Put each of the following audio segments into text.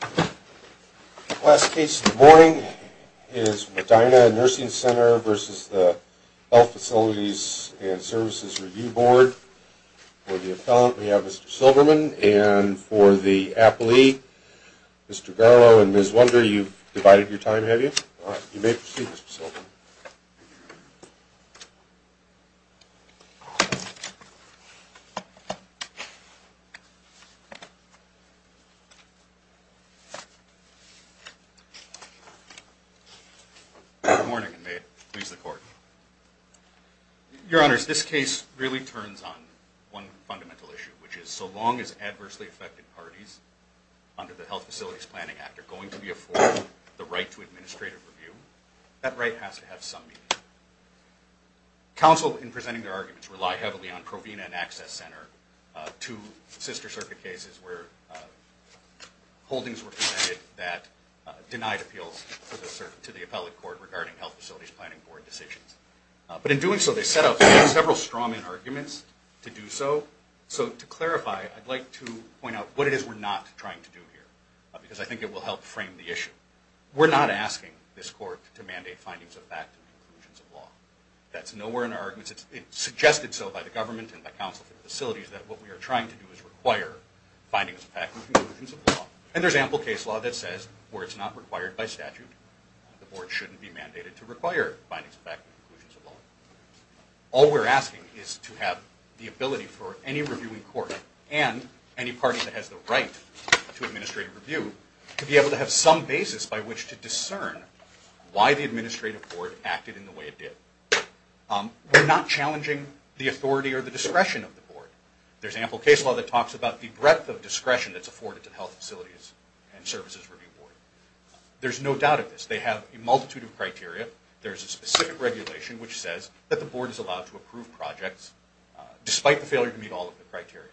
The last case of the morning is Medina Nursing Center versus the Health Facilities and Services Review Board. For the appellant we have Mr. Silverman, and for the appellee, Mr. Garlow and Ms. Wunder, you've divided your time, have you? You may proceed, Mr. Silverman. Good morning, and may it please the Court. Your Honors, this case really turns on one fundamental issue, which is so long as adversely affected parties under the Health Facilities Planning Act are going to be afforded the right to administrative review, that right has to have some meaning. Counsel, in presenting their arguments, rely heavily on Provena and Access Center, two sister circuit cases where holdings were presented that denied appeals to the appellate court regarding health facilities planning board decisions. But in doing so, they set up several strawman arguments to do so. So to clarify, I'd like to point out what it is we're not trying to do here, because I think it will help frame the issue. We're not asking this court to mandate findings of fact and conclusions of law. That's nowhere in our arguments. It's suggested so by the government and by counsel for the facilities that what we are trying to do is require findings of fact and conclusions of law. And there's ample case law that says where it's not required by statute, the board shouldn't be mandated to require findings of fact and conclusions of law. All we're asking is to have the ability for any reviewing court and any party that has the right to administrative review to be able to have some basis by which to discern why the administrative board acted in the way it did. We're not challenging the authority or the discretion of the board. There's ample case law that talks about the breadth of discretion that's afforded to the health facilities and services review board. There's no doubt of this. They have a multitude of criteria. There's a specific regulation which says that the board is allowed to approve projects despite the failure to meet all of the criteria.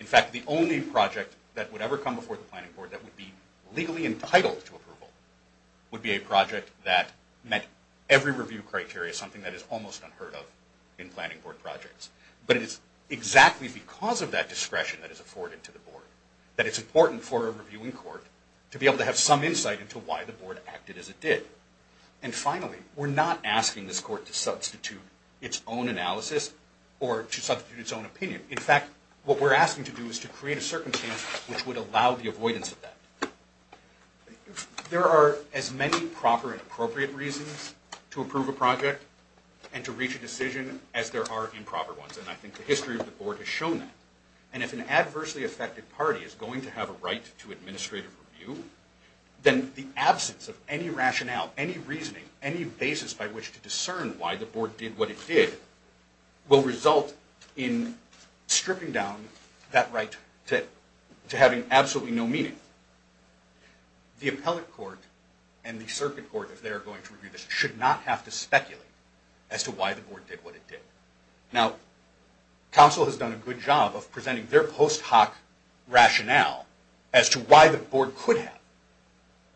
In fact, the only project that would ever come before the planning board that would be legally entitled to approval would be a project that met every review criteria, something that is almost unheard of in planning board projects. But it is exactly because of that discretion that is afforded to the board that it's important for a reviewing court to be able to have some insight into why the board acted as it did. And finally, we're not asking this court to substitute its own analysis or to substitute its own opinion. In fact, what we're asking to do is to create a circumstance which would allow the avoidance of that. There are as many proper and appropriate reasons to approve a project and to reach a decision as there are improper ones, and I think the history of the board has shown that. And if an adversely affected party is going to have a right to administrative review, then the absence of any rationale, any reasoning, any basis by which to discern why the board did what it did will result in stripping down that right to having absolutely no meaning. The appellate court and the circuit court, if they are going to review this, should not have to speculate as to why the board did what it did. Now, counsel has done a good job of presenting their post hoc rationale as to why the board could have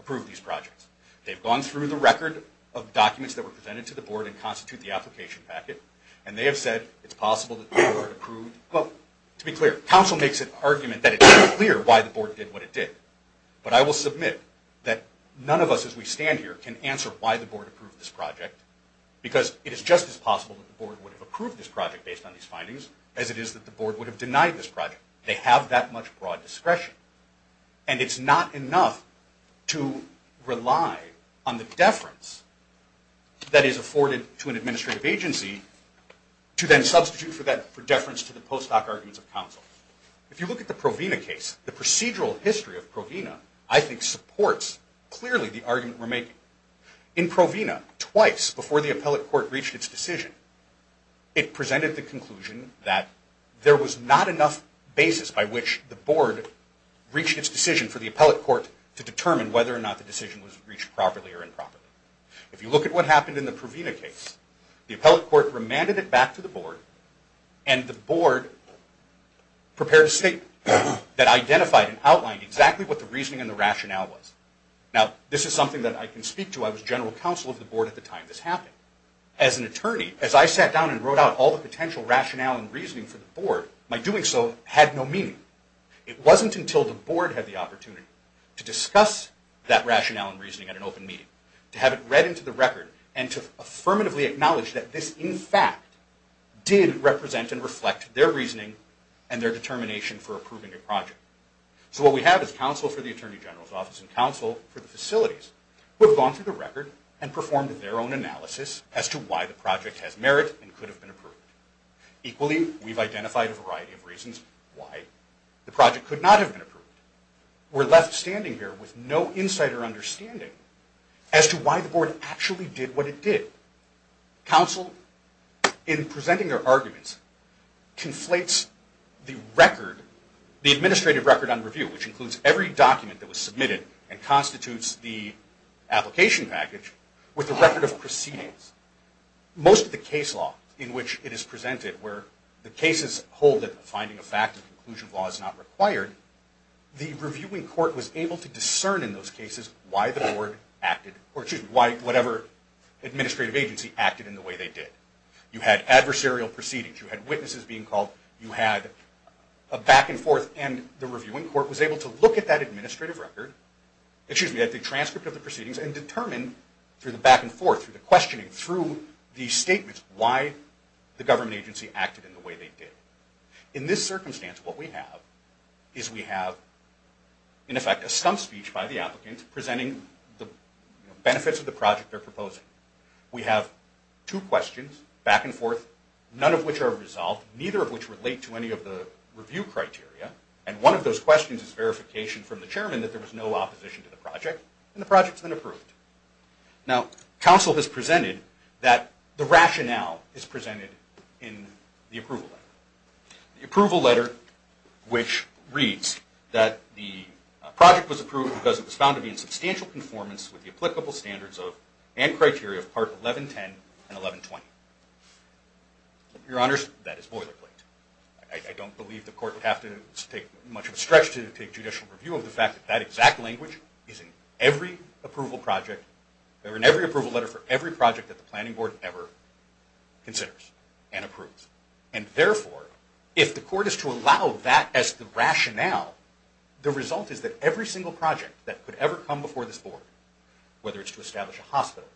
approved these projects. They've gone through the record of documents that were presented to the board and constitute the application packet, and they have said it's possible that the board approved. Well, to be clear, counsel makes an argument that it's unclear why the board did what it did. But I will submit that none of us as we stand here can answer why the board approved this project, because it is just as possible that the board would have approved this project based on these findings as it is that the board would have denied this project. They have that much broad discretion. And it's not enough to rely on the deference that is afforded to an administrative agency to then substitute for deference to the post hoc arguments of counsel. If you look at the Provena case, the procedural history of Provena, I think, supports clearly the argument we're making. In Provena, twice before the appellate court reached its decision, it presented the conclusion that there was not enough basis by which the board reached its decision for the appellate court to determine whether or not the decision was reached properly or improperly. If you look at what happened in the Provena case, the appellate court remanded it back to the board. And the board prepared a statement that identified and outlined exactly what the reasoning and the rationale was. Now, this is something that I can speak to. I was general counsel of the board at the time this happened. As an attorney, as I sat down and wrote out all the potential rationale and reasoning for the board, my doing so had no meaning. It wasn't until the board had the opportunity to discuss that rationale and reasoning at an open meeting, to have it read into the record, and to affirmatively acknowledge that this, in fact, did represent and reflect their reasoning and their determination for approving a project. So what we have is counsel for the attorney general's office and counsel for the facilities, who have gone through the record and performed their own analysis as to why the project has merit and could have been approved. Equally, we've identified a variety of reasons why the project could not have been approved. We're left standing here with no insight or understanding as to why the board actually did what it did. Counsel, in presenting their arguments, conflates the administrative record on review, which includes every document that was submitted and constitutes the application package, with the record of proceedings. Most of the case law in which it is presented, where the cases hold that finding a fact of conclusion law is not required, the reviewing court was able to discern in those cases why the board acted, or excuse me, why whatever administrative agency acted in the way they did. You had adversarial proceedings. You had witnesses being called. You had a back and forth, and the reviewing court was able to look at that administrative record, excuse me, at the transcript of the proceedings and determine, through the back and forth, through the questioning, through the statements, why the government agency acted in the way they did. In this circumstance, what we have is we have, in effect, a stump speech by the applicant, presenting the benefits of the project they're proposing. We have two questions, back and forth, none of which are resolved, neither of which relate to any of the review criteria, and one of those questions is verification from the chairman that there was no opposition to the project, and the project's been approved. Now, counsel has presented that the rationale is presented in the approval letter, the approval letter which reads that the project was approved because it was found to be in substantial conformance with the applicable standards and criteria of Part 1110 and 1120. Your Honors, that is boilerplate. I don't believe the court would have to take much of a stretch to take judicial review of the fact that that exact language is in every approval letter for every project that the planning board ever considers and approves. And therefore, if the court is to allow that as the rationale, the result is that every single project that could ever come before this board, whether it's to establish a hospital,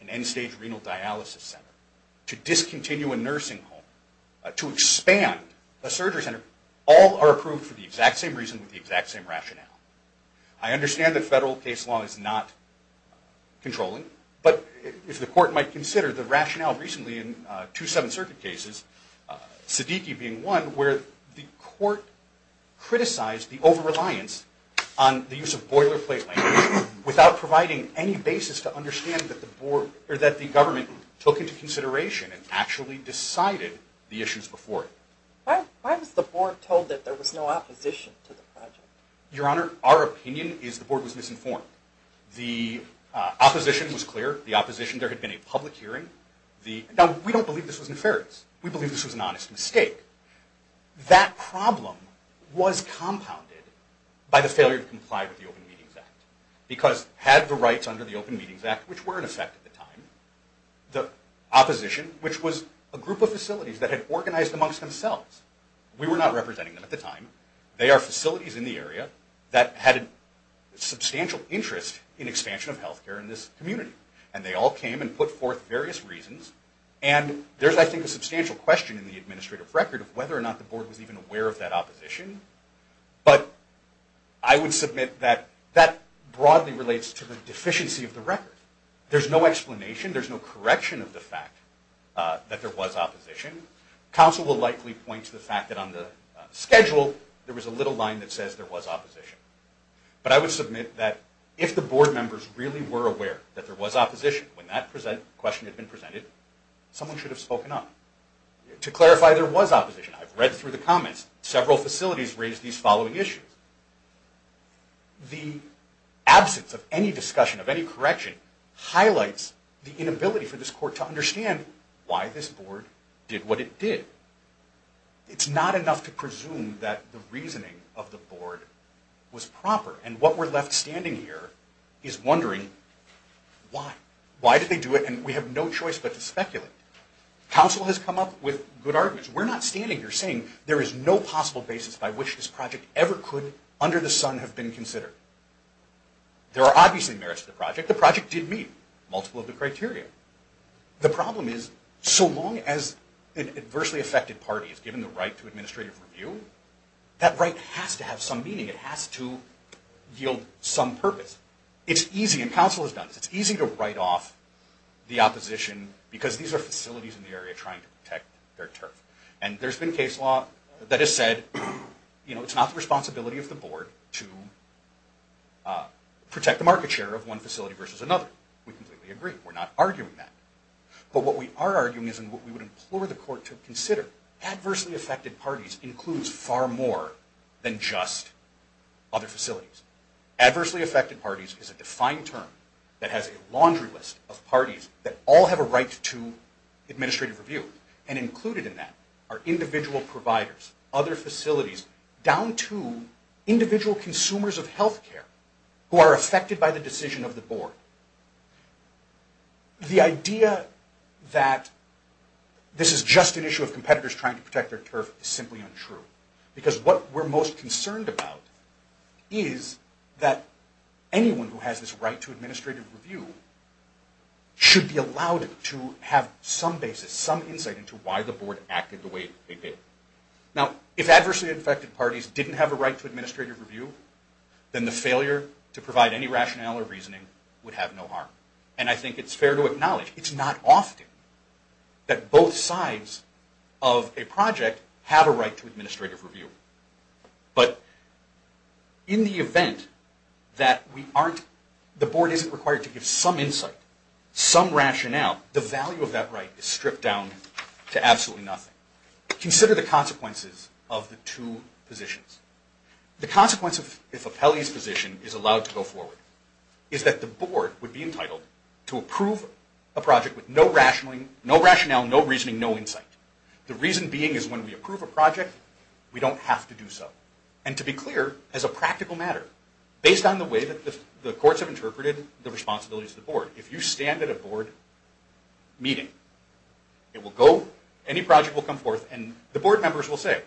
an end-stage renal dialysis center, to discontinue a nursing home, to expand a surgery center, all are approved for the exact same reason with the exact same rationale. I understand that federal case law is not controlling, but if the court might consider the rationale recently in two Seventh Circuit cases, Siddiqui being one, where the court criticized the over-reliance on the use of boilerplate language without providing any basis to understand that the government took into consideration and actually decided the issues before it. Why was the board told that there was no opposition to the project? Your Honor, our opinion is the board was misinformed. The opposition was clear. The opposition, there had been a public hearing. Now, we don't believe this was nefarious. We believe this was an honest mistake. That problem was compounded by the failure to comply with the Open Meetings Act because had the rights under the Open Meetings Act, which were in effect at the time, the opposition, which was a group of facilities that had organized amongst themselves. We were not representing them at the time. They are facilities in the area that had a substantial interest in expansion of health care in this community. And they all came and put forth various reasons. And there's, I think, a substantial question in the administrative record of whether or not the board was even aware of that opposition. But I would submit that that broadly relates to the deficiency of the record. There's no explanation. There's no correction of the fact that there was opposition. Counsel will likely point to the fact that on the schedule, there was a little line that says there was opposition. But I would submit that if the board members really were aware that there was opposition when that question had been presented, someone should have spoken up. To clarify, there was opposition. I've read through the comments. Several facilities raised these following issues. The absence of any discussion of any correction highlights the inability for this court to understand why this board did what it did. It's not enough to presume that the reasoning of the board was proper. And what we're left standing here is wondering why. Why did they do it? And we have no choice but to speculate. Counsel has come up with good arguments. We're not standing here saying there is no possible basis by which this project ever could under the sun have been considered. There are obviously merits to the project. The project did meet multiple of the criteria. The problem is so long as an adversely affected party is given the right to administrative review, that right has to have some meaning. It has to yield some purpose. It's easy, and counsel has done this, it's easy to write off the opposition because these are facilities in the area trying to protect their turf. And there's been case law that has said it's not the responsibility of the board to protect the market share of one facility versus another. We completely agree. We're not arguing that. But what we are arguing is what we would implore the court to consider. Adversely affected parties includes far more than just other facilities. Adversely affected parties is a defined term that has a laundry list of parties that all have a right to administrative review. And included in that are individual providers, other facilities, down to individual consumers of health care who are affected by the decision of the board. The idea that this is just an issue of competitors trying to protect their turf is simply untrue. Because what we're most concerned about is that anyone who has this right to administrative review should be allowed to have some basis, some insight into why the board acted the way it did. Now, if adversely affected parties didn't have a right to administrative review, then the failure to provide any rationale or reasoning would have no harm. And I think it's fair to acknowledge it's not often that both sides of a project have a right to administrative review. But in the event that the board isn't required to give some insight, some rationale, the value of that right is stripped down to absolutely nothing. Consider the consequences of the two positions. The consequence, if Apelli's position is allowed to go forward, is that the board would be entitled to approve a project with no rationale, no reasoning, no insight. The reason being is when we approve a project, we don't have to do so. And to be clear, as a practical matter, based on the way that the courts have interpreted the responsibilities of the board, if you stand at a board meeting, any project will come forth and the board members will say,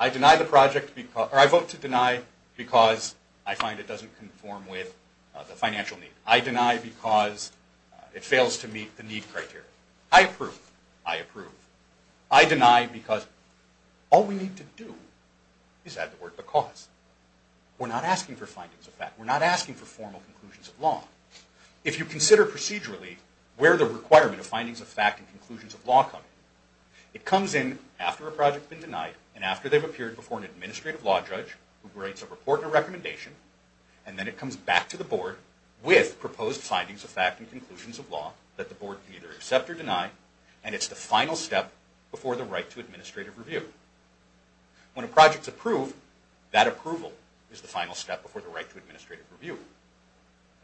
I vote to deny because I find it doesn't conform with the financial need. I deny because it fails to meet the need criteria. I approve. I approve. I deny because all we need to do is add the word because. We're not asking for findings of fact. We're not asking for formal conclusions of law. If you consider procedurally where the requirement of findings of fact and conclusions of law come in, it comes in after a project's been denied and after they've appeared before an administrative law judge who writes a report and a recommendation, and then it comes back to the board with proposed findings of fact and conclusions of law that the board can either accept or deny, and it's the final step before the right to administrative review. When a project's approved, that approval is the final step before the right to administrative review.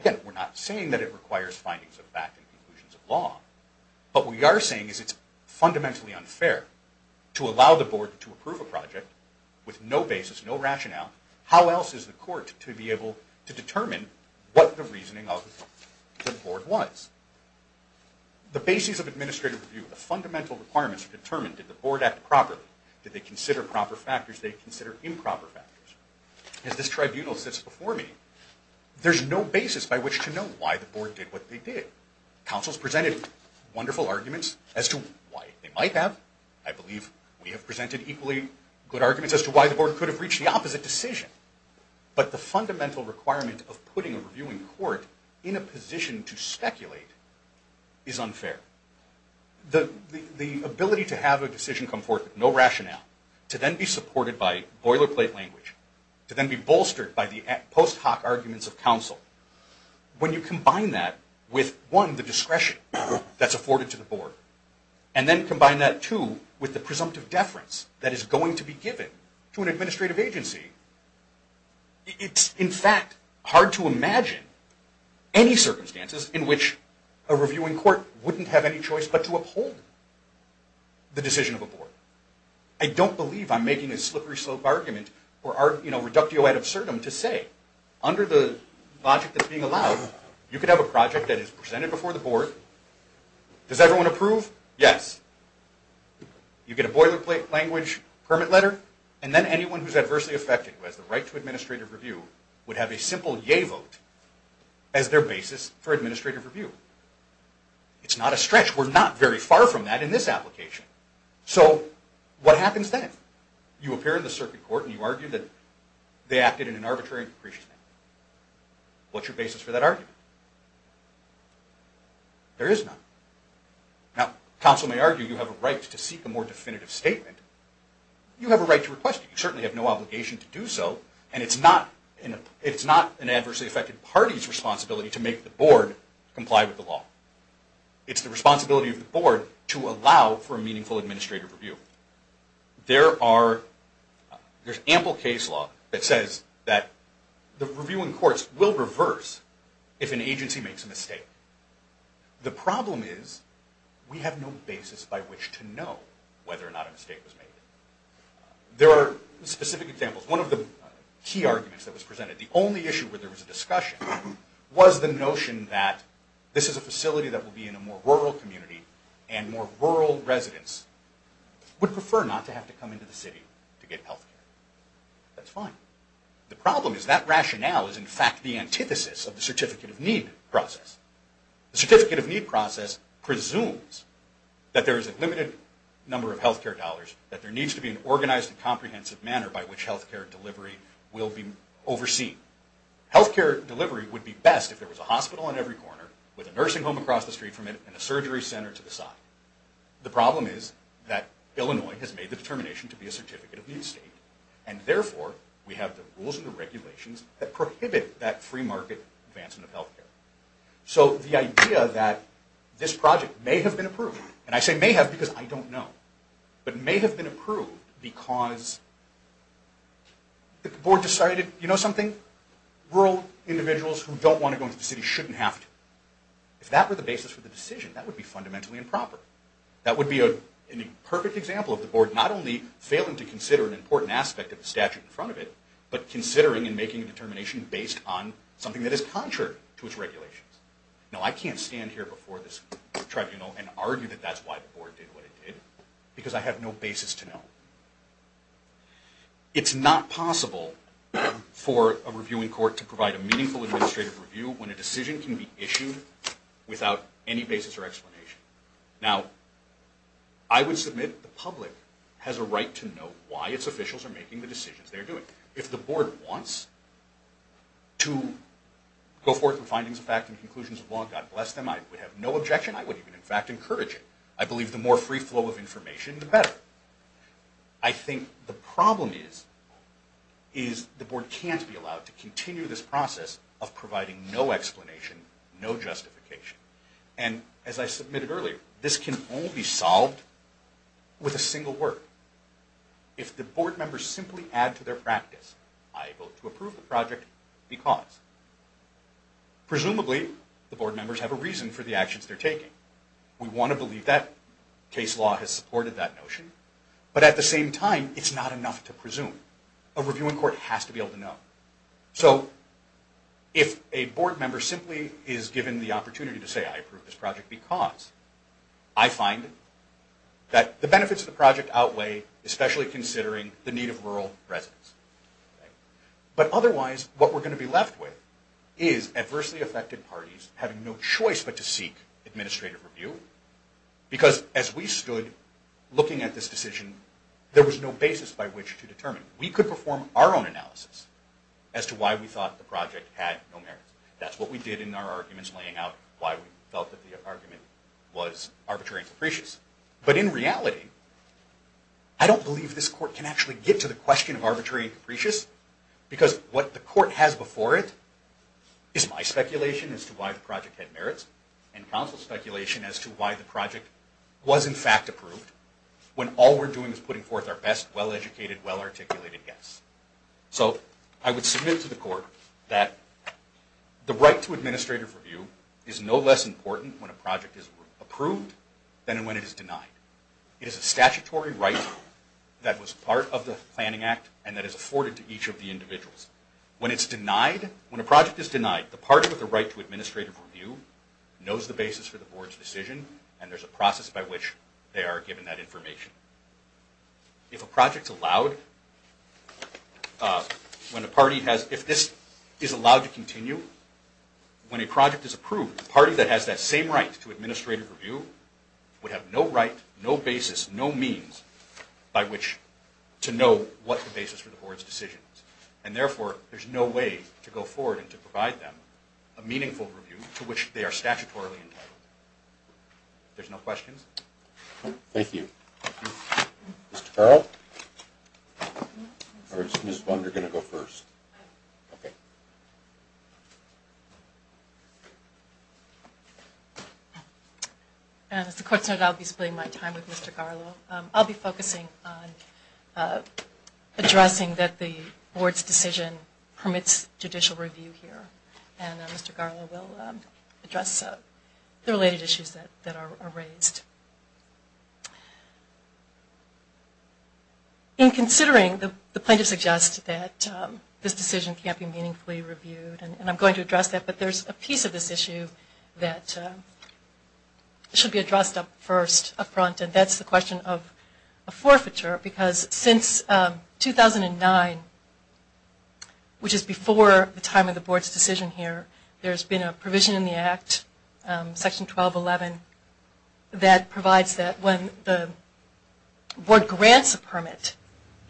Again, we're not saying that it requires findings of fact and conclusions of law. What we are saying is it's fundamentally unfair to allow the board to approve a project with no basis, no rationale. How else is the court to be able to determine what the reasoning of the board was? The basis of administrative review, the fundamental requirements are determined. Did the board act properly? Did they consider proper factors? Did they consider improper factors? As this tribunal sits before me, there's no basis by which to know why the board did what they did. Councils presented wonderful arguments as to why they might have. I believe we have presented equally good arguments as to why the board could have reached the opposite decision. But the fundamental requirement of putting a reviewing court in a position to speculate is unfair. The ability to have a decision come forth with no rationale, to then be supported by boilerplate language, to then be bolstered by the post hoc arguments of counsel, when you combine that with, one, the discretion that's afforded to the board, and then combine that, two, with the presumptive deference that is going to be given to an administrative agency, it's, in fact, hard to imagine any circumstances in which a reviewing court wouldn't have any choice but to uphold the decision of a board. I don't believe I'm making a slippery slope argument or reductio ad absurdum to say, under the logic that's being allowed, you could have a project that is presented before the board. Does everyone approve? Yes. You get a boilerplate language permit letter, and then anyone who's adversely affected, who has the right to administrative review, would have a simple yay vote as their basis for administrative review. It's not a stretch. We're not very far from that in this application. So, what happens then? You appear in the circuit court and you argue that they acted in an arbitrary and capricious manner. What's your basis for that argument? There is none. Now, counsel may argue you have a right to seek a more definitive statement. You have a right to request it. You certainly have no obligation to do so, and it's not an adversely affected party's responsibility to make the board comply with the law. It's the responsibility of the board to allow for meaningful administrative review. There's ample case law that says that the reviewing courts will reverse if an agency makes a mistake. The problem is, we have no basis by which to know whether or not a mistake was made. There are specific examples. One of the key arguments that was presented, the only issue where there was a discussion, was the notion that this is a facility that will be in a more rural community and more rural residents. Would prefer not to have to come into the city to get health care. That's fine. The problem is that rationale is in fact the antithesis of the certificate of need process. The certificate of need process presumes that there is a limited number of health care dollars, that there needs to be an organized and comprehensive manner by which health care delivery will be overseen. Health care delivery would be best if there was a hospital in every corner, with a nursing home across the street from it, and a surgery center to the side. The problem is that Illinois has made the determination to be a certificate of need state, and therefore we have the rules and regulations that prohibit that free market advancement of health care. So the idea that this project may have been approved, and I say may have because I don't know, but may have been approved because the board decided, you know something, rural individuals who don't want to go into the city shouldn't have to. If that were the basis for the decision, that would be fundamentally improper. That would be a perfect example of the board not only failing to consider an important aspect of the statute in front of it, but considering and making a determination based on something that is contrary to its regulations. Now I can't stand here before this tribunal and argue that that's why the board did what it did, because I have no basis to know. It's not possible for a reviewing court to provide a meaningful administrative review when a decision can be issued without any basis or explanation. Now, I would submit the public has a right to know why its officials are making the decisions they're doing. If the board wants to go forth with findings of fact and conclusions of law, God bless them, I would have no objection. I would even, in fact, encourage it. I believe the more free flow of information, the better. I think the problem is the board can't be allowed to continue this process of providing no explanation, no justification. And as I submitted earlier, this can only be solved with a single word. If the board members simply add to their practice, I vote to approve the project because. Presumably, the board members have a reason for the actions they're taking. We want to believe that case law has supported that notion. But at the same time, it's not enough to presume. A reviewing court has to be able to know. So, if a board member simply is given the opportunity to say, I approve this project because I find that the benefits of the project outweigh, especially considering the need of rural residents. But otherwise, what we're going to be left with is adversely affected parties having no choice but to seek administrative review. Because as we stood looking at this decision, there was no basis by which to determine. We could perform our own analysis as to why we thought the project had no merits. That's what we did in our arguments laying out why we felt that the argument was arbitrary and capricious. But in reality, I don't believe this court can actually get to the question of arbitrary and capricious because what the court has before it is my speculation as to why the project had merits and counsel's speculation as to why the project was in fact approved when all we're doing is putting forth our best, well-educated, well-articulated guess. So, I would submit to the court that the right to administrative review is no less important when a project is approved than when it is denied. It is a statutory right that was part of the Planning Act and that is afforded to each of the individuals. When it's denied, when a project is denied, the party with the right to administrative review knows the basis for the board's decision and there's a process by which they are given that information. If a project's allowed, when a party has, if this is allowed to continue, when a project is approved, the party that has that same right to administrative review would have no right, no basis, no means by which to know what the basis for the board's decision is. And therefore, there's no way to go forward and to provide them a meaningful review to which they are statutorily entitled. There's no questions? Thank you. Mr. Farrell? Or is Ms. Bunder going to go first? As the court's noted, I'll be splitting my time with Mr. Garlow. I'll be focusing on addressing that the board's decision permits judicial review here. And Mr. Garlow will address the related issues that are raised. In considering the plaintiff suggests that this decision can't be meaningfully reviewed and I'm going to address that, but there's a piece of this issue that should be addressed up first, up front, and that's the question of a forfeiture because since 2009, which is before the time of the board's decision here, there's been a provision in the Act, Section 1211, that provides that when the board grants a permit,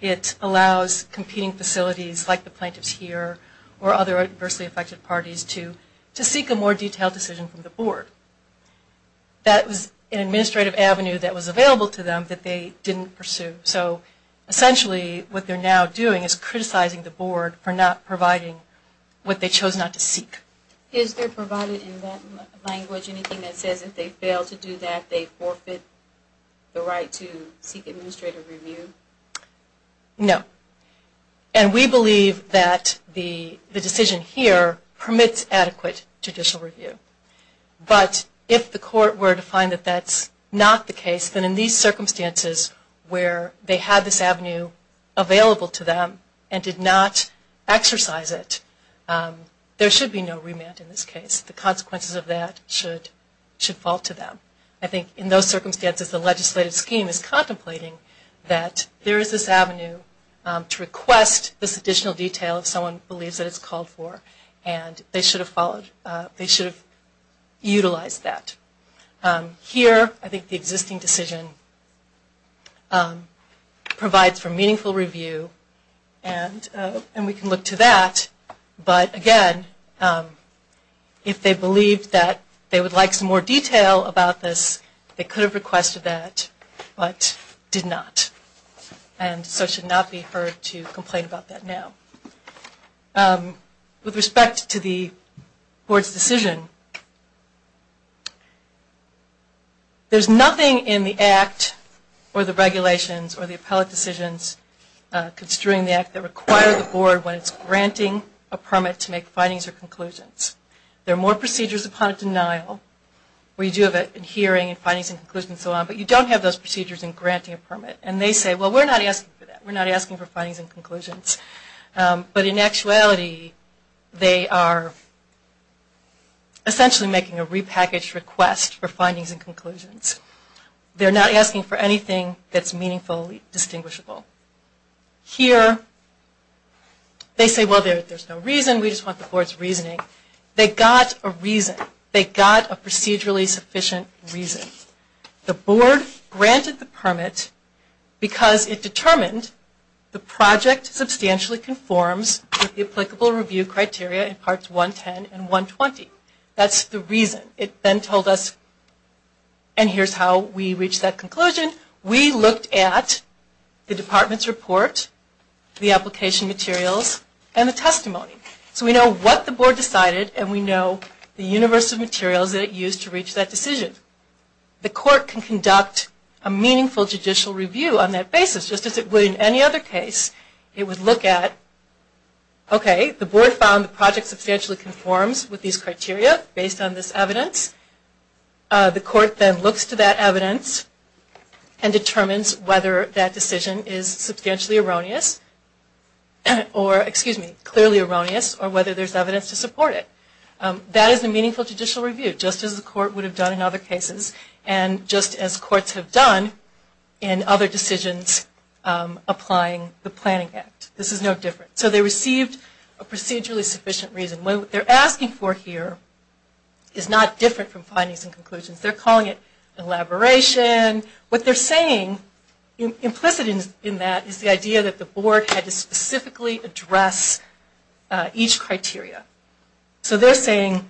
it allows competing facilities like the plaintiffs here or other adversely affected parties to seek a more detailed decision from the board. That was an administrative avenue that was available to them that they didn't pursue. So essentially, what they're now doing is criticizing the board for not providing what they chose not to seek. Is there provided in that language anything that says if they fail to do that, they forfeit the right to seek administrative review? No. And we believe that the decision here permits adequate judicial review. But if the court were to find that that's not the case, then in these circumstances where they had this avenue available to them and did not exercise it, there should be no remand in this case. The consequences of that should fall to them. I think in those circumstances, the legislative scheme is contemplating that there is this avenue to request this additional detail if someone believes that it's called for and they should have followed, they should have utilized that. Here, I think the existing decision provides for meaningful review, and we can look to that. But again, if they believed that they would like some more detail about this, they could have requested that, but did not. And so it should not be heard to complain about that now. With respect to the Board's decision, there's nothing in the Act or the regulations or the appellate decisions construing the Act that require the Board, when it's granting a permit, to make findings or conclusions. There are more procedures upon a denial where you do have a hearing and findings and conclusions and so on, but you don't have those procedures in granting a permit. And they say, well, we're not asking for that. But in actuality, they are essentially making a repackaged request for findings and conclusions. They're not asking for anything that's meaningfully distinguishable. Here, they say, well, there's no reason. We just want the Board's reasoning. They got a reason. They got a procedurally sufficient reason. The Board granted the permit because it determined the project substantially conforms with the applicable review criteria in Parts 110 and 120. That's the reason. It then told us, and here's how we reached that conclusion. We looked at the Department's report, the application materials, and the testimony. So we know what the Board decided, and we know the universe of materials that it used to reach that decision. The Court can conduct a meaningful judicial review on that basis, just as it would in any other case. It would look at, okay, the Board found the project substantially conforms with these criteria based on this evidence. The Court then looks to that evidence and determines whether that decision is substantially erroneous or, excuse me, clearly erroneous, or whether there's evidence to support it. That is a meaningful judicial review, just as the Court would have done in other cases, and just as Courts have done in other decisions applying the Planning Act. This is no different. So they received a procedurally sufficient reason. What they're asking for here is not different from findings and conclusions. They're calling it elaboration. What they're saying implicit in that is the idea that the Board had to specifically address each criteria. So they're saying,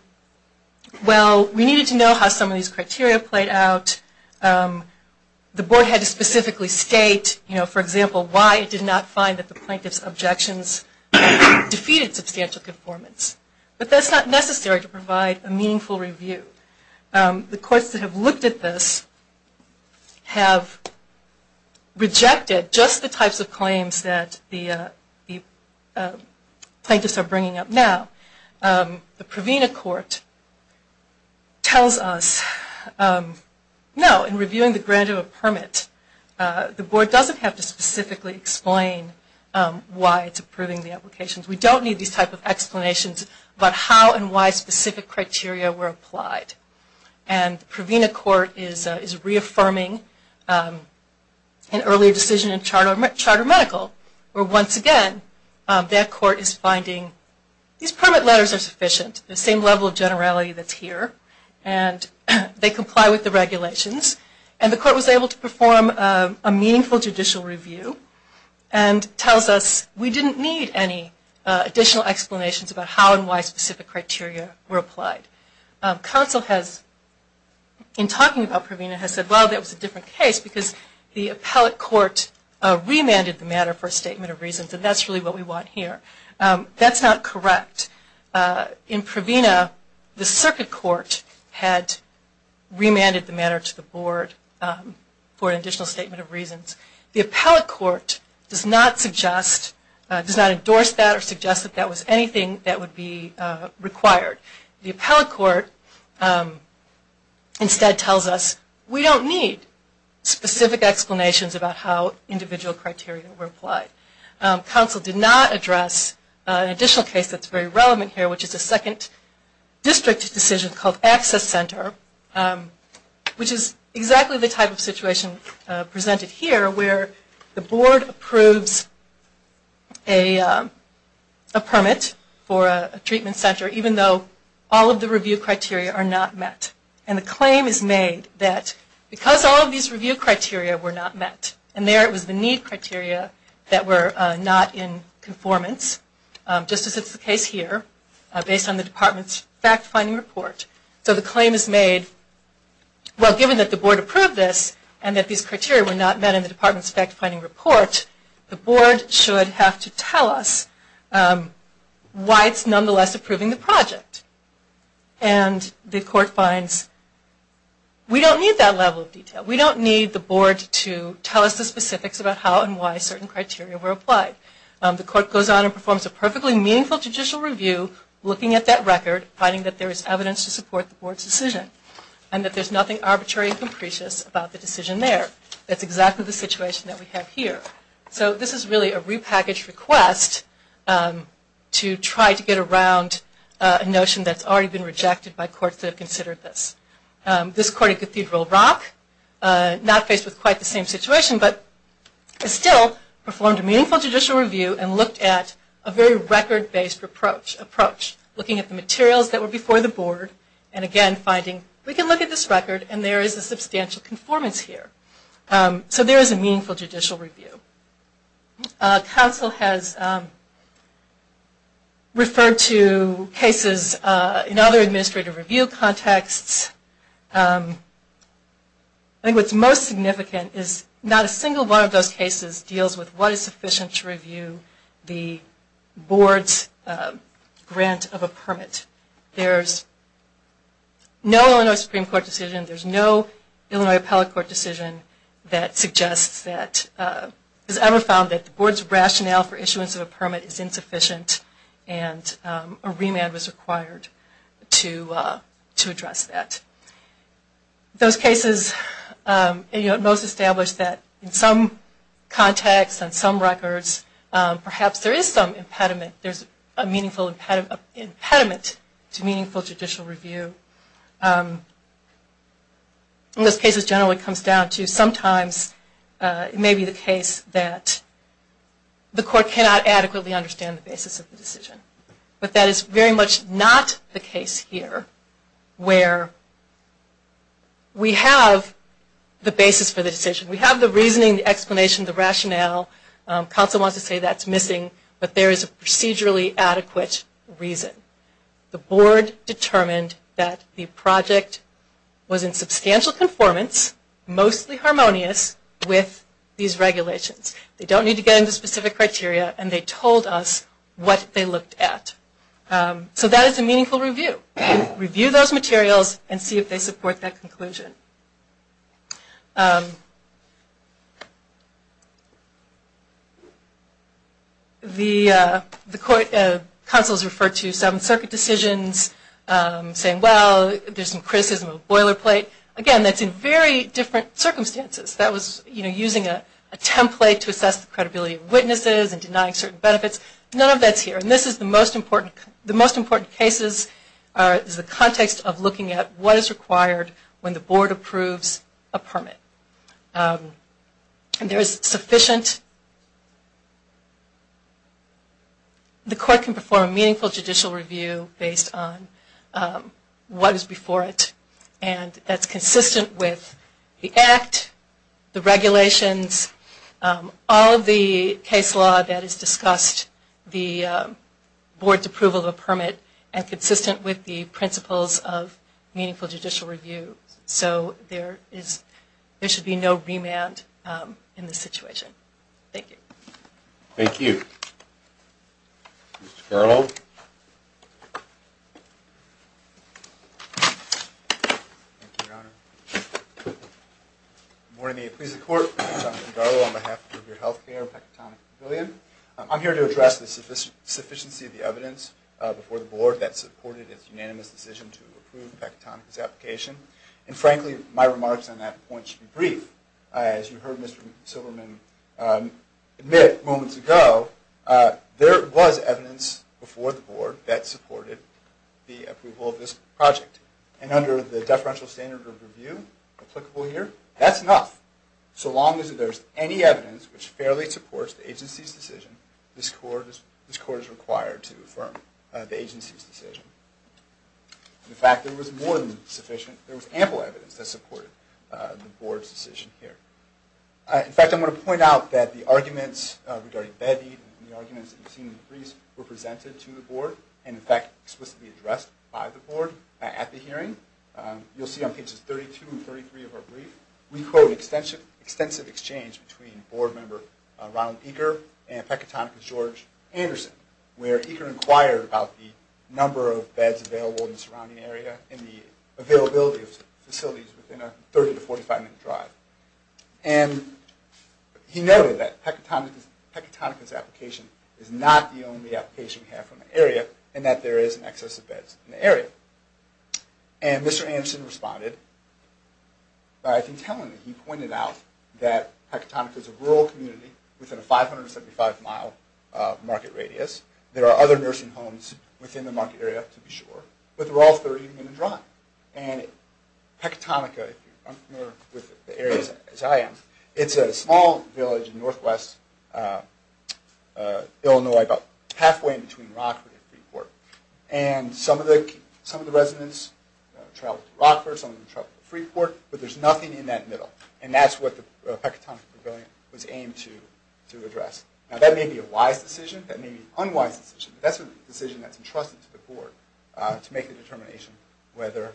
well, we needed to know how some of these criteria played out. The Board had to specifically state, you know, for example, why it did not find that the plaintiff's objections defeated substantial conformance. But that's not necessary to provide a meaningful review. One of the things that the plaintiffs are bringing up now, the Provena Court tells us, no, in reviewing the grant of a permit, the Board doesn't have to specifically explain why it's approving the applications. We don't need these type of explanations about how and why specific criteria were applied. And Provena Court is reaffirming an earlier decision in Charter Medical where, once again, that court is finding these permit letters are sufficient, the same level of generality that's here, and they comply with the regulations. And the court was able to perform a meaningful judicial review and tells us we didn't need any additional explanations about how and why specific criteria were applied. Now, that was a different case because the appellate court remanded the matter for a statement of reasons, and that's really what we want here. That's not correct. In Provena, the circuit court had remanded the matter to the Board for an additional statement of reasons. The appellate court does not suggest, does not endorse that or suggest that that was anything that would be required. The appellate court instead tells us we don't need specific explanations about how individual criteria were applied. Council did not address an additional case that's very relevant here, which is a second district decision called Access Center, which is exactly the type of situation presented here where the Board approves a permit for a treatment center even though all of the review criteria are not met. And the claim is made that because all of these review criteria were not met, and there it was the need criteria that were not in conformance, just as is the case here, based on the Department's fact-finding report. So the claim is made, well, given that the Board approved this and that these criteria were not met in the Department's fact-finding report, the Board should have to tell us why it's nonetheless approving the project. And the court finds we don't need that level of detail. We don't need the Board to tell us the specifics about how and why certain criteria were applied. The court goes on and performs a perfectly meaningful judicial review, looking at that record, finding that there is evidence to support the Board's decision, and that there's nothing arbitrary and capricious about the decision there. That's exactly the situation that we have here. So this is really a repackaged request to try to get around a notion that's already been rejected by courts that have considered this. This court at Cathedral Rock, not faced with quite the same situation, but still performed a meaningful judicial review and looked at a very record-based approach, looking at the materials that were before the Board and again finding we can look at this record and there is a substantial conformance here. So there is a meaningful judicial review. Council has referred to cases in other administrative review contexts. I think what's most significant is not a single one of those cases deals with what is sufficient to review the Board's grant of a permit. There's no Illinois Supreme Court decision. There's no Illinois Appellate Court decision that suggests that, has ever found that the Board's rationale for issuance of a permit is insufficient and a remand was required to address that. Those cases most establish that in some contexts and some records, perhaps there is some impediment. There's a meaningful impediment to meaningful judicial review. In those cases generally it comes down to sometimes it may be the case that the court cannot adequately understand the basis of the decision. But that is very much not the case here where we have the basis for the decision. We have the reasoning, the explanation, the rationale. Council wants to say that's missing but there is a procedurally adequate reason. The Board determined that the project was in substantial conformance, mostly harmonious, with these regulations. They don't need to get into specific criteria and they told us what they looked at. So that is a meaningful review. Review those materials and see if they support that conclusion. The council has referred to some circuit decisions saying, well, there's some criticism of boilerplate. Again, that's in very different circumstances. That was using a template to assess the credibility of witnesses and denying certain benefits. None of that is here. The most important cases is the context of looking at what is required when the Board approves a permit. The court can perform a meaningful judicial review based on what is before it. That's consistent with the Act, the regulations, all of the case law that provides approval of a permit and consistent with the principles of meaningful judicial review. So there should be no remand in this situation. Thank you. Thank you. Mr. Garlow. Good morning. Please, the Court. I'm Jonathan Garlow on behalf of your health care, Pecatonic Pavilion. I'm here to address the sufficiency of the evidence before the Board that supported its unanimous decision to approve Pecatonic's application. And frankly, my remarks on that point should be brief. As you heard Mr. Silverman admit moments ago, there was evidence before the Board that supported the approval of this project. And under the deferential standard of review applicable here, that's enough. So long as there's any evidence which fairly supports the agency's decision, this Court is required to affirm the agency's decision. In fact, there was more than sufficient, there was ample evidence that supported the Board's decision here. In fact, I'm going to point out that the arguments regarding bed need and the arguments that you've seen in the briefs were presented to the Board and, in fact, explicitly addressed by the Board at the hearing. You'll see on pages 32 and 33 of our brief, we quote, there was a very extensive exchange between Board member Ronald Eaker and Pecatonic's George Anderson, where Eaker inquired about the number of beds available in the surrounding area and the availability of facilities within a 30 to 45-minute drive. And he noted that Pecatonic's application is not the only application we have for an area and that there is an excess of beds in the area. And Mr. Anderson responded by, I think, telling me, he pointed out that Pecatonic is a rural community within a 575-mile market radius. There are other nursing homes within the market area, to be sure, but they're all 30-minute drive. And Pecatonic, if you're unfamiliar with the area as I am, it's a small village in northwest Illinois about halfway in between Rockwood and some of the residents travel to Rockford, some travel to Freeport, but there's nothing in that middle. And that's what the Pecatonic Pavilion was aimed to address. Now, that may be a wise decision, that may be an unwise decision, but that's a decision that's entrusted to the Board to make the determination whether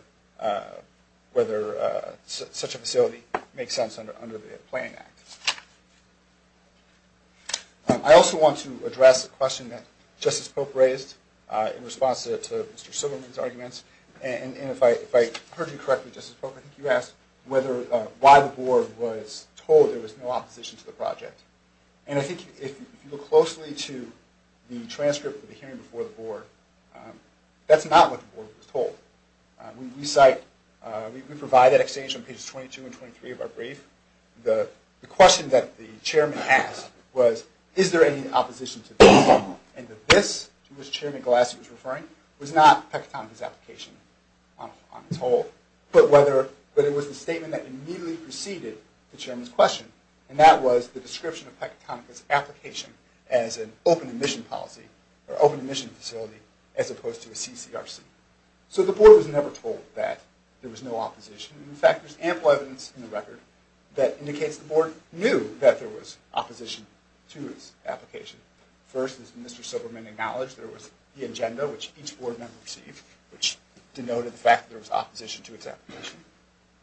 such a facility makes sense under the Planning Act. I also want to address a question that Justice Pope raised in response to Mr. Silverman's arguments, and if I heard you correctly, Justice Pope, I think you asked why the Board was told there was no opposition to the project. And I think if you look closely to the transcript of the hearing before the Board, that's not what the Board was told. We provide that exchange on pages 22 and 23 of our brief. The question that the Chairman asked was, is there any opposition to this? And the this to which Chairman Glassie was referring was not Pecatonic's application on its whole, but it was the statement that immediately preceded the Chairman's question, and that was the description of Pecatonic's application as an open admission policy, or open admission facility, as opposed to a CCRC. So the Board was never told that there was no opposition. In fact, there's ample evidence in the record that indicates the Board knew that there was opposition to its application. First, as Mr. Silverman acknowledged, there was the agenda, which each Board member received, which denoted the fact that there was opposition to its application.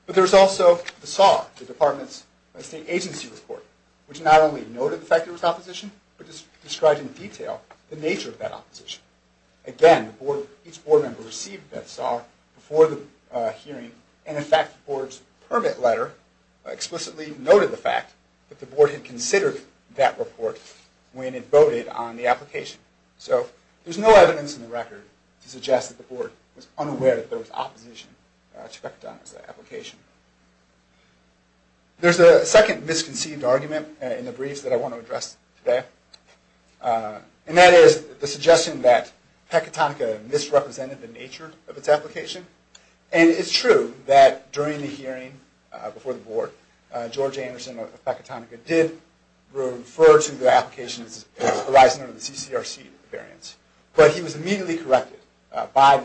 But there was also the SAR, the Department's State Agency Report, which not only noted the fact there was opposition, but described in detail the nature of that opposition. letter explicitly noted the fact that the Board had considered that report when it voted on the application. So there's no evidence in the record to suggest that the Board was unaware that there was opposition to Pecatonic's application. There's a second misconceived argument in the briefs that I want to address today, and that is the suggestion that Pecatonica misrepresented the nature of its application. And it's true that during the hearing before the Board, George Anderson of Pecatonica did refer to the application as arising under the CCRC variance. But he was immediately corrected by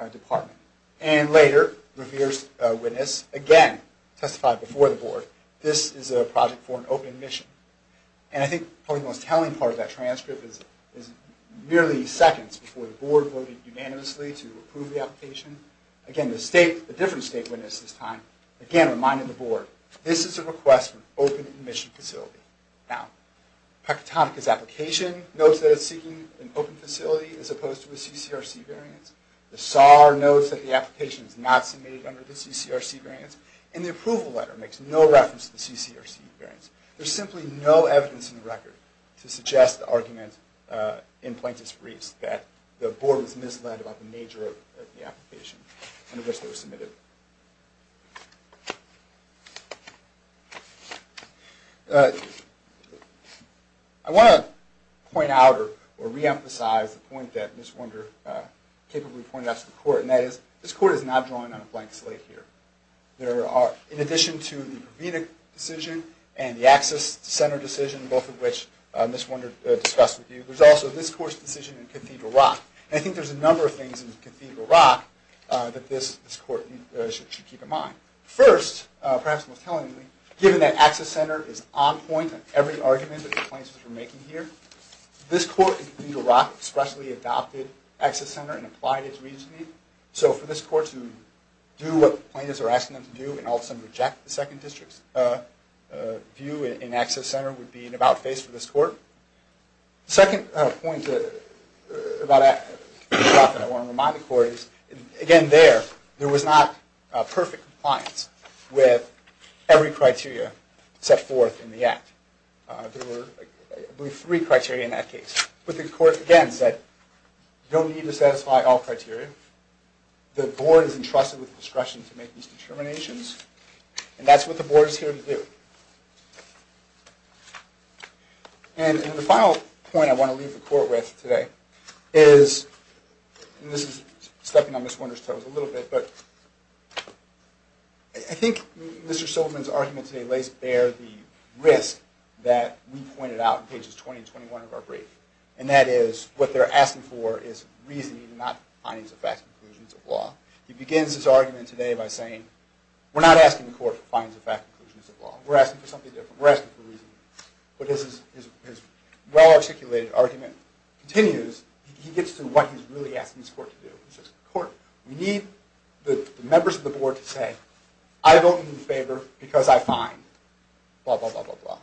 the Department. And later, Revere's witness again testified before the Board, this is a project for an open mission. And I think probably the most telling part of that transcript is merely seconds before the Board voted unanimously to approve the application. Again, a different state witness this time, again reminding the Board, this is a request for an open mission facility. Now, Pecatonica's application notes that it's seeking an open facility as opposed to a CCRC variance. The SAR notes that the application is not submitted under the CCRC variance. And the approval letter makes no reference to the CCRC variance. There's simply no evidence in the record to suggest the argument in Plaintiff's briefs that the Board was misled about the nature of the application under which they were submitted. I want to point out or reemphasize the point that Ms. Wunder capably pointed out to the Court, and that is this Court is not drawing on a blank slate here. In addition to the Provenic decision and the Access Center decision, both of which Ms. Wunder discussed with you, there's also this Court's decision in Cathedral Rock. And I think there's a number of things in Cathedral Rock that this Court should keep in mind. First, perhaps most tellingly, given that Access Center is on point on every argument that the Plaintiffs were making here, this Court in Cathedral Rock expressly adopted Access Center and applied it regionally. So for this Court to do what the Plaintiffs are asking them to do and all of a sudden reject the second district's view in Access Center would be an about-face for this Court. The second point about Access Center that I want to remind the Court is, again there, there was not perfect compliance with every criteria set forth in the Act. There were, I believe, three criteria in that case. But the Court, again, said you don't need to satisfy all criteria. The Board is entrusted with discretion to make these determinations. And that's what the Board is here to do. And the final point I want to leave the Court with today is, and this is stepping on Ms. Wunder's toes a little bit, but I think Mr. Silverman's argument today lays bare the risk that we pointed out in pages 20 and 21 of the Court Brief. And that is, what they're asking for is reasoning, not findings of fact and conclusions of law. He begins his argument today by saying, we're not asking the Court for findings of fact and conclusions of law. We're asking for something different. We're asking for reasoning. But his well-articulated argument continues. He gets to what he's really asking this Court to do. He says, the Court, we need the members of the Board to say, I vote in your favor because I find, blah, blah, blah, blah, blah.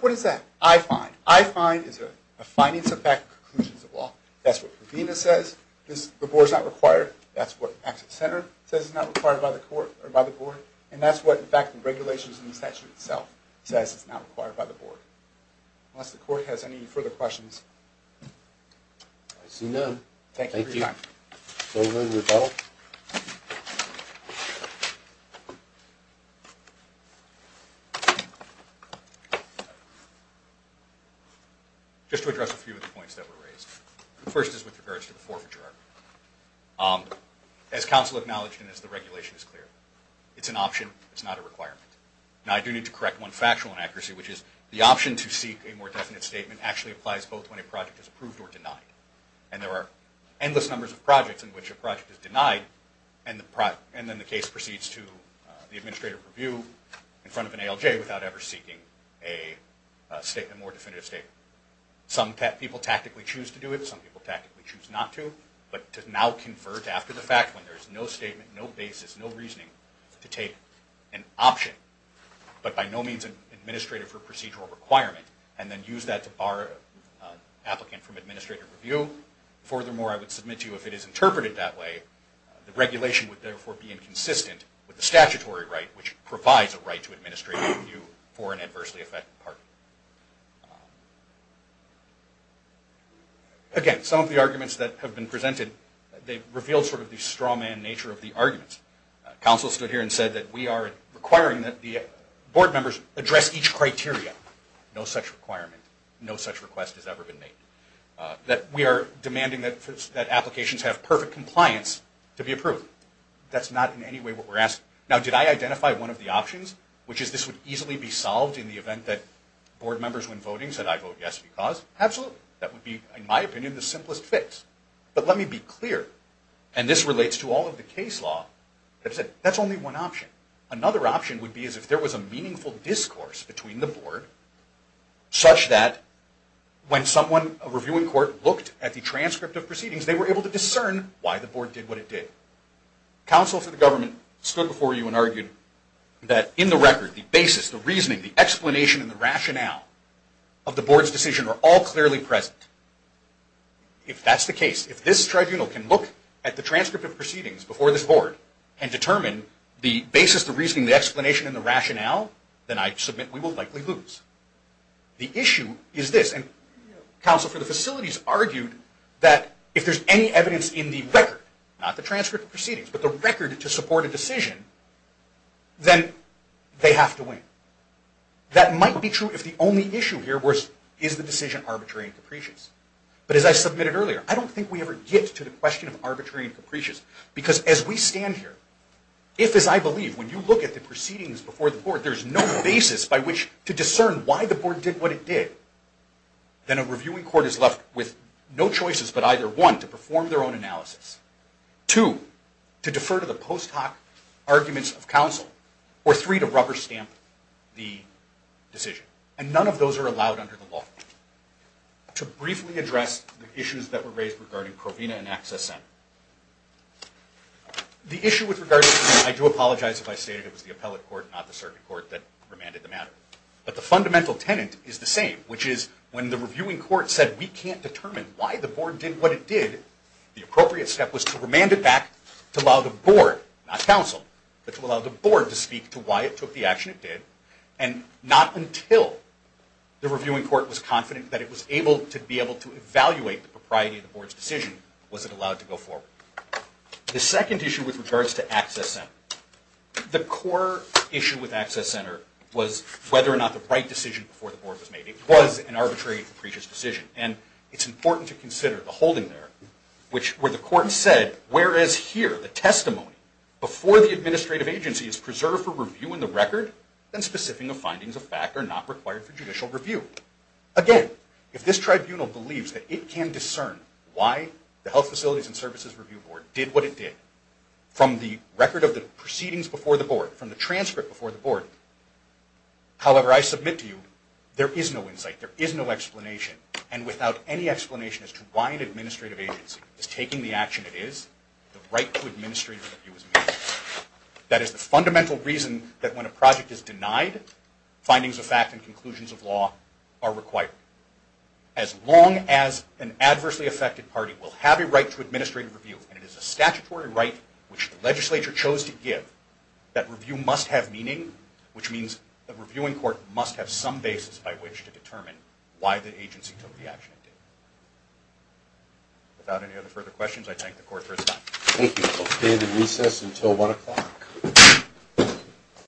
What is that? I find. What I find is a findings of fact and conclusions of law. That's what Ravina says. The Board is not required. That's what Access Center says is not required by the Board. And that's what, in fact, the regulations in the statute itself says is not required by the Board. Unless the Court has any further questions. I see none. Thank you for your time. Thank you. Silverman, rebuttal. Just to address a few of the points that were raised. The first is with regards to the forfeiture argument. As counsel acknowledged and as the regulation is clear, it's an option, it's not a requirement. Now, I do need to correct one factual inaccuracy, which is the option to seek a more definite statement actually applies both when a project is approved or denied. And there are endless numbers of projects in which a project is denied and then the case proceeds to the administrative review in front of an more definitive statement. Some people tactically choose to do it. Some people tactically choose not to. But to now confer to after the fact when there is no statement, no basis, no reasoning to take an option, but by no means an administrative or procedural requirement, and then use that to bar an applicant from administrative review. Furthermore, I would submit to you if it is interpreted that way, the regulation would therefore be inconsistent with the statutory right, which provides a right to administrative review for an adversely affected party. Again, some of the arguments that have been presented, they've revealed sort of the straw man nature of the arguments. Counsel stood here and said that we are requiring that the board members address each criteria. No such requirement, no such request has ever been made. That we are demanding that applications have perfect compliance to be approved. That's not in any way what we're asking. Now, did I identify one of the options, which is this would easily be solved in the event that board members win voting, said I vote yes because? Absolutely. That would be, in my opinion, the simplest fix. But let me be clear, and this relates to all of the case law, that's only one option. Another option would be as if there was a meaningful discourse between the board such that when someone, a review in court, looked at the transcript of proceedings, they were able to discern why the board did what it did. Counsel for the government stood before you and argued that in the record, the basis, the reasoning, the explanation, and the rationale of the board's decision are all clearly present. If that's the case, if this tribunal can look at the transcript of proceedings before this board and determine the basis, the reasoning, the explanation, and the rationale, then I submit we will likely lose. The issue is this, and counsel for the facilities argued that if there's any basis in the transcript of proceedings but the record to support a decision, then they have to win. That might be true if the only issue here is the decision arbitrary and capricious. But as I submitted earlier, I don't think we ever get to the question of arbitrary and capricious because as we stand here, if, as I believe, when you look at the proceedings before the board, there's no basis by which to discern why the board did what it did, then a review in court is left with no choices but either, one, to perform their own analysis, two, to defer to the post hoc arguments of counsel, or three, to rubber stamp the decision. And none of those are allowed under the law. To briefly address the issues that were raised regarding Provena and Access Center. The issue with regard to Provena, I do apologize if I stated it was the appellate court, not the circuit court that remanded the matter. But the fundamental tenet is the same, which is when the reviewing court said we can't determine why the board did what it did, the appropriate step was to remand it back to allow the board, not counsel, but to allow the board to speak to why it took the action it did. And not until the reviewing court was confident that it was able to be able to evaluate the propriety of the board's decision was it allowed to go forward. The second issue with regards to Access Center. The core issue with Access Center was whether or not the right decision before the board was made. It was an arbitrary and capricious decision. And it's important to consider the holding there, where the court said, whereas here the testimony before the administrative agency is preserved for review in the record, then specific findings of fact are not required for judicial review. Again, if this tribunal believes that it can discern why the Health Facilities and Services Review Board did what it did from the record of the proceedings before the board, from the transcript before the board, however I submit to you, there is no insight. There is no explanation. And without any explanation as to why an administrative agency is taking the action it is, the right to administrative review is meaningless. That is the fundamental reason that when a project is denied, findings of fact and conclusions of law are required. As long as an adversely affected party will have a right to administrative review, and it is a statutory right which the legislature chose to give, that review must have meaning, which means the reviewing court must have some basis by which to determine why the agency took the action it did. Without any other further questions, I thank the court for its time. Thank you. Okay, the recess until 1 o'clock.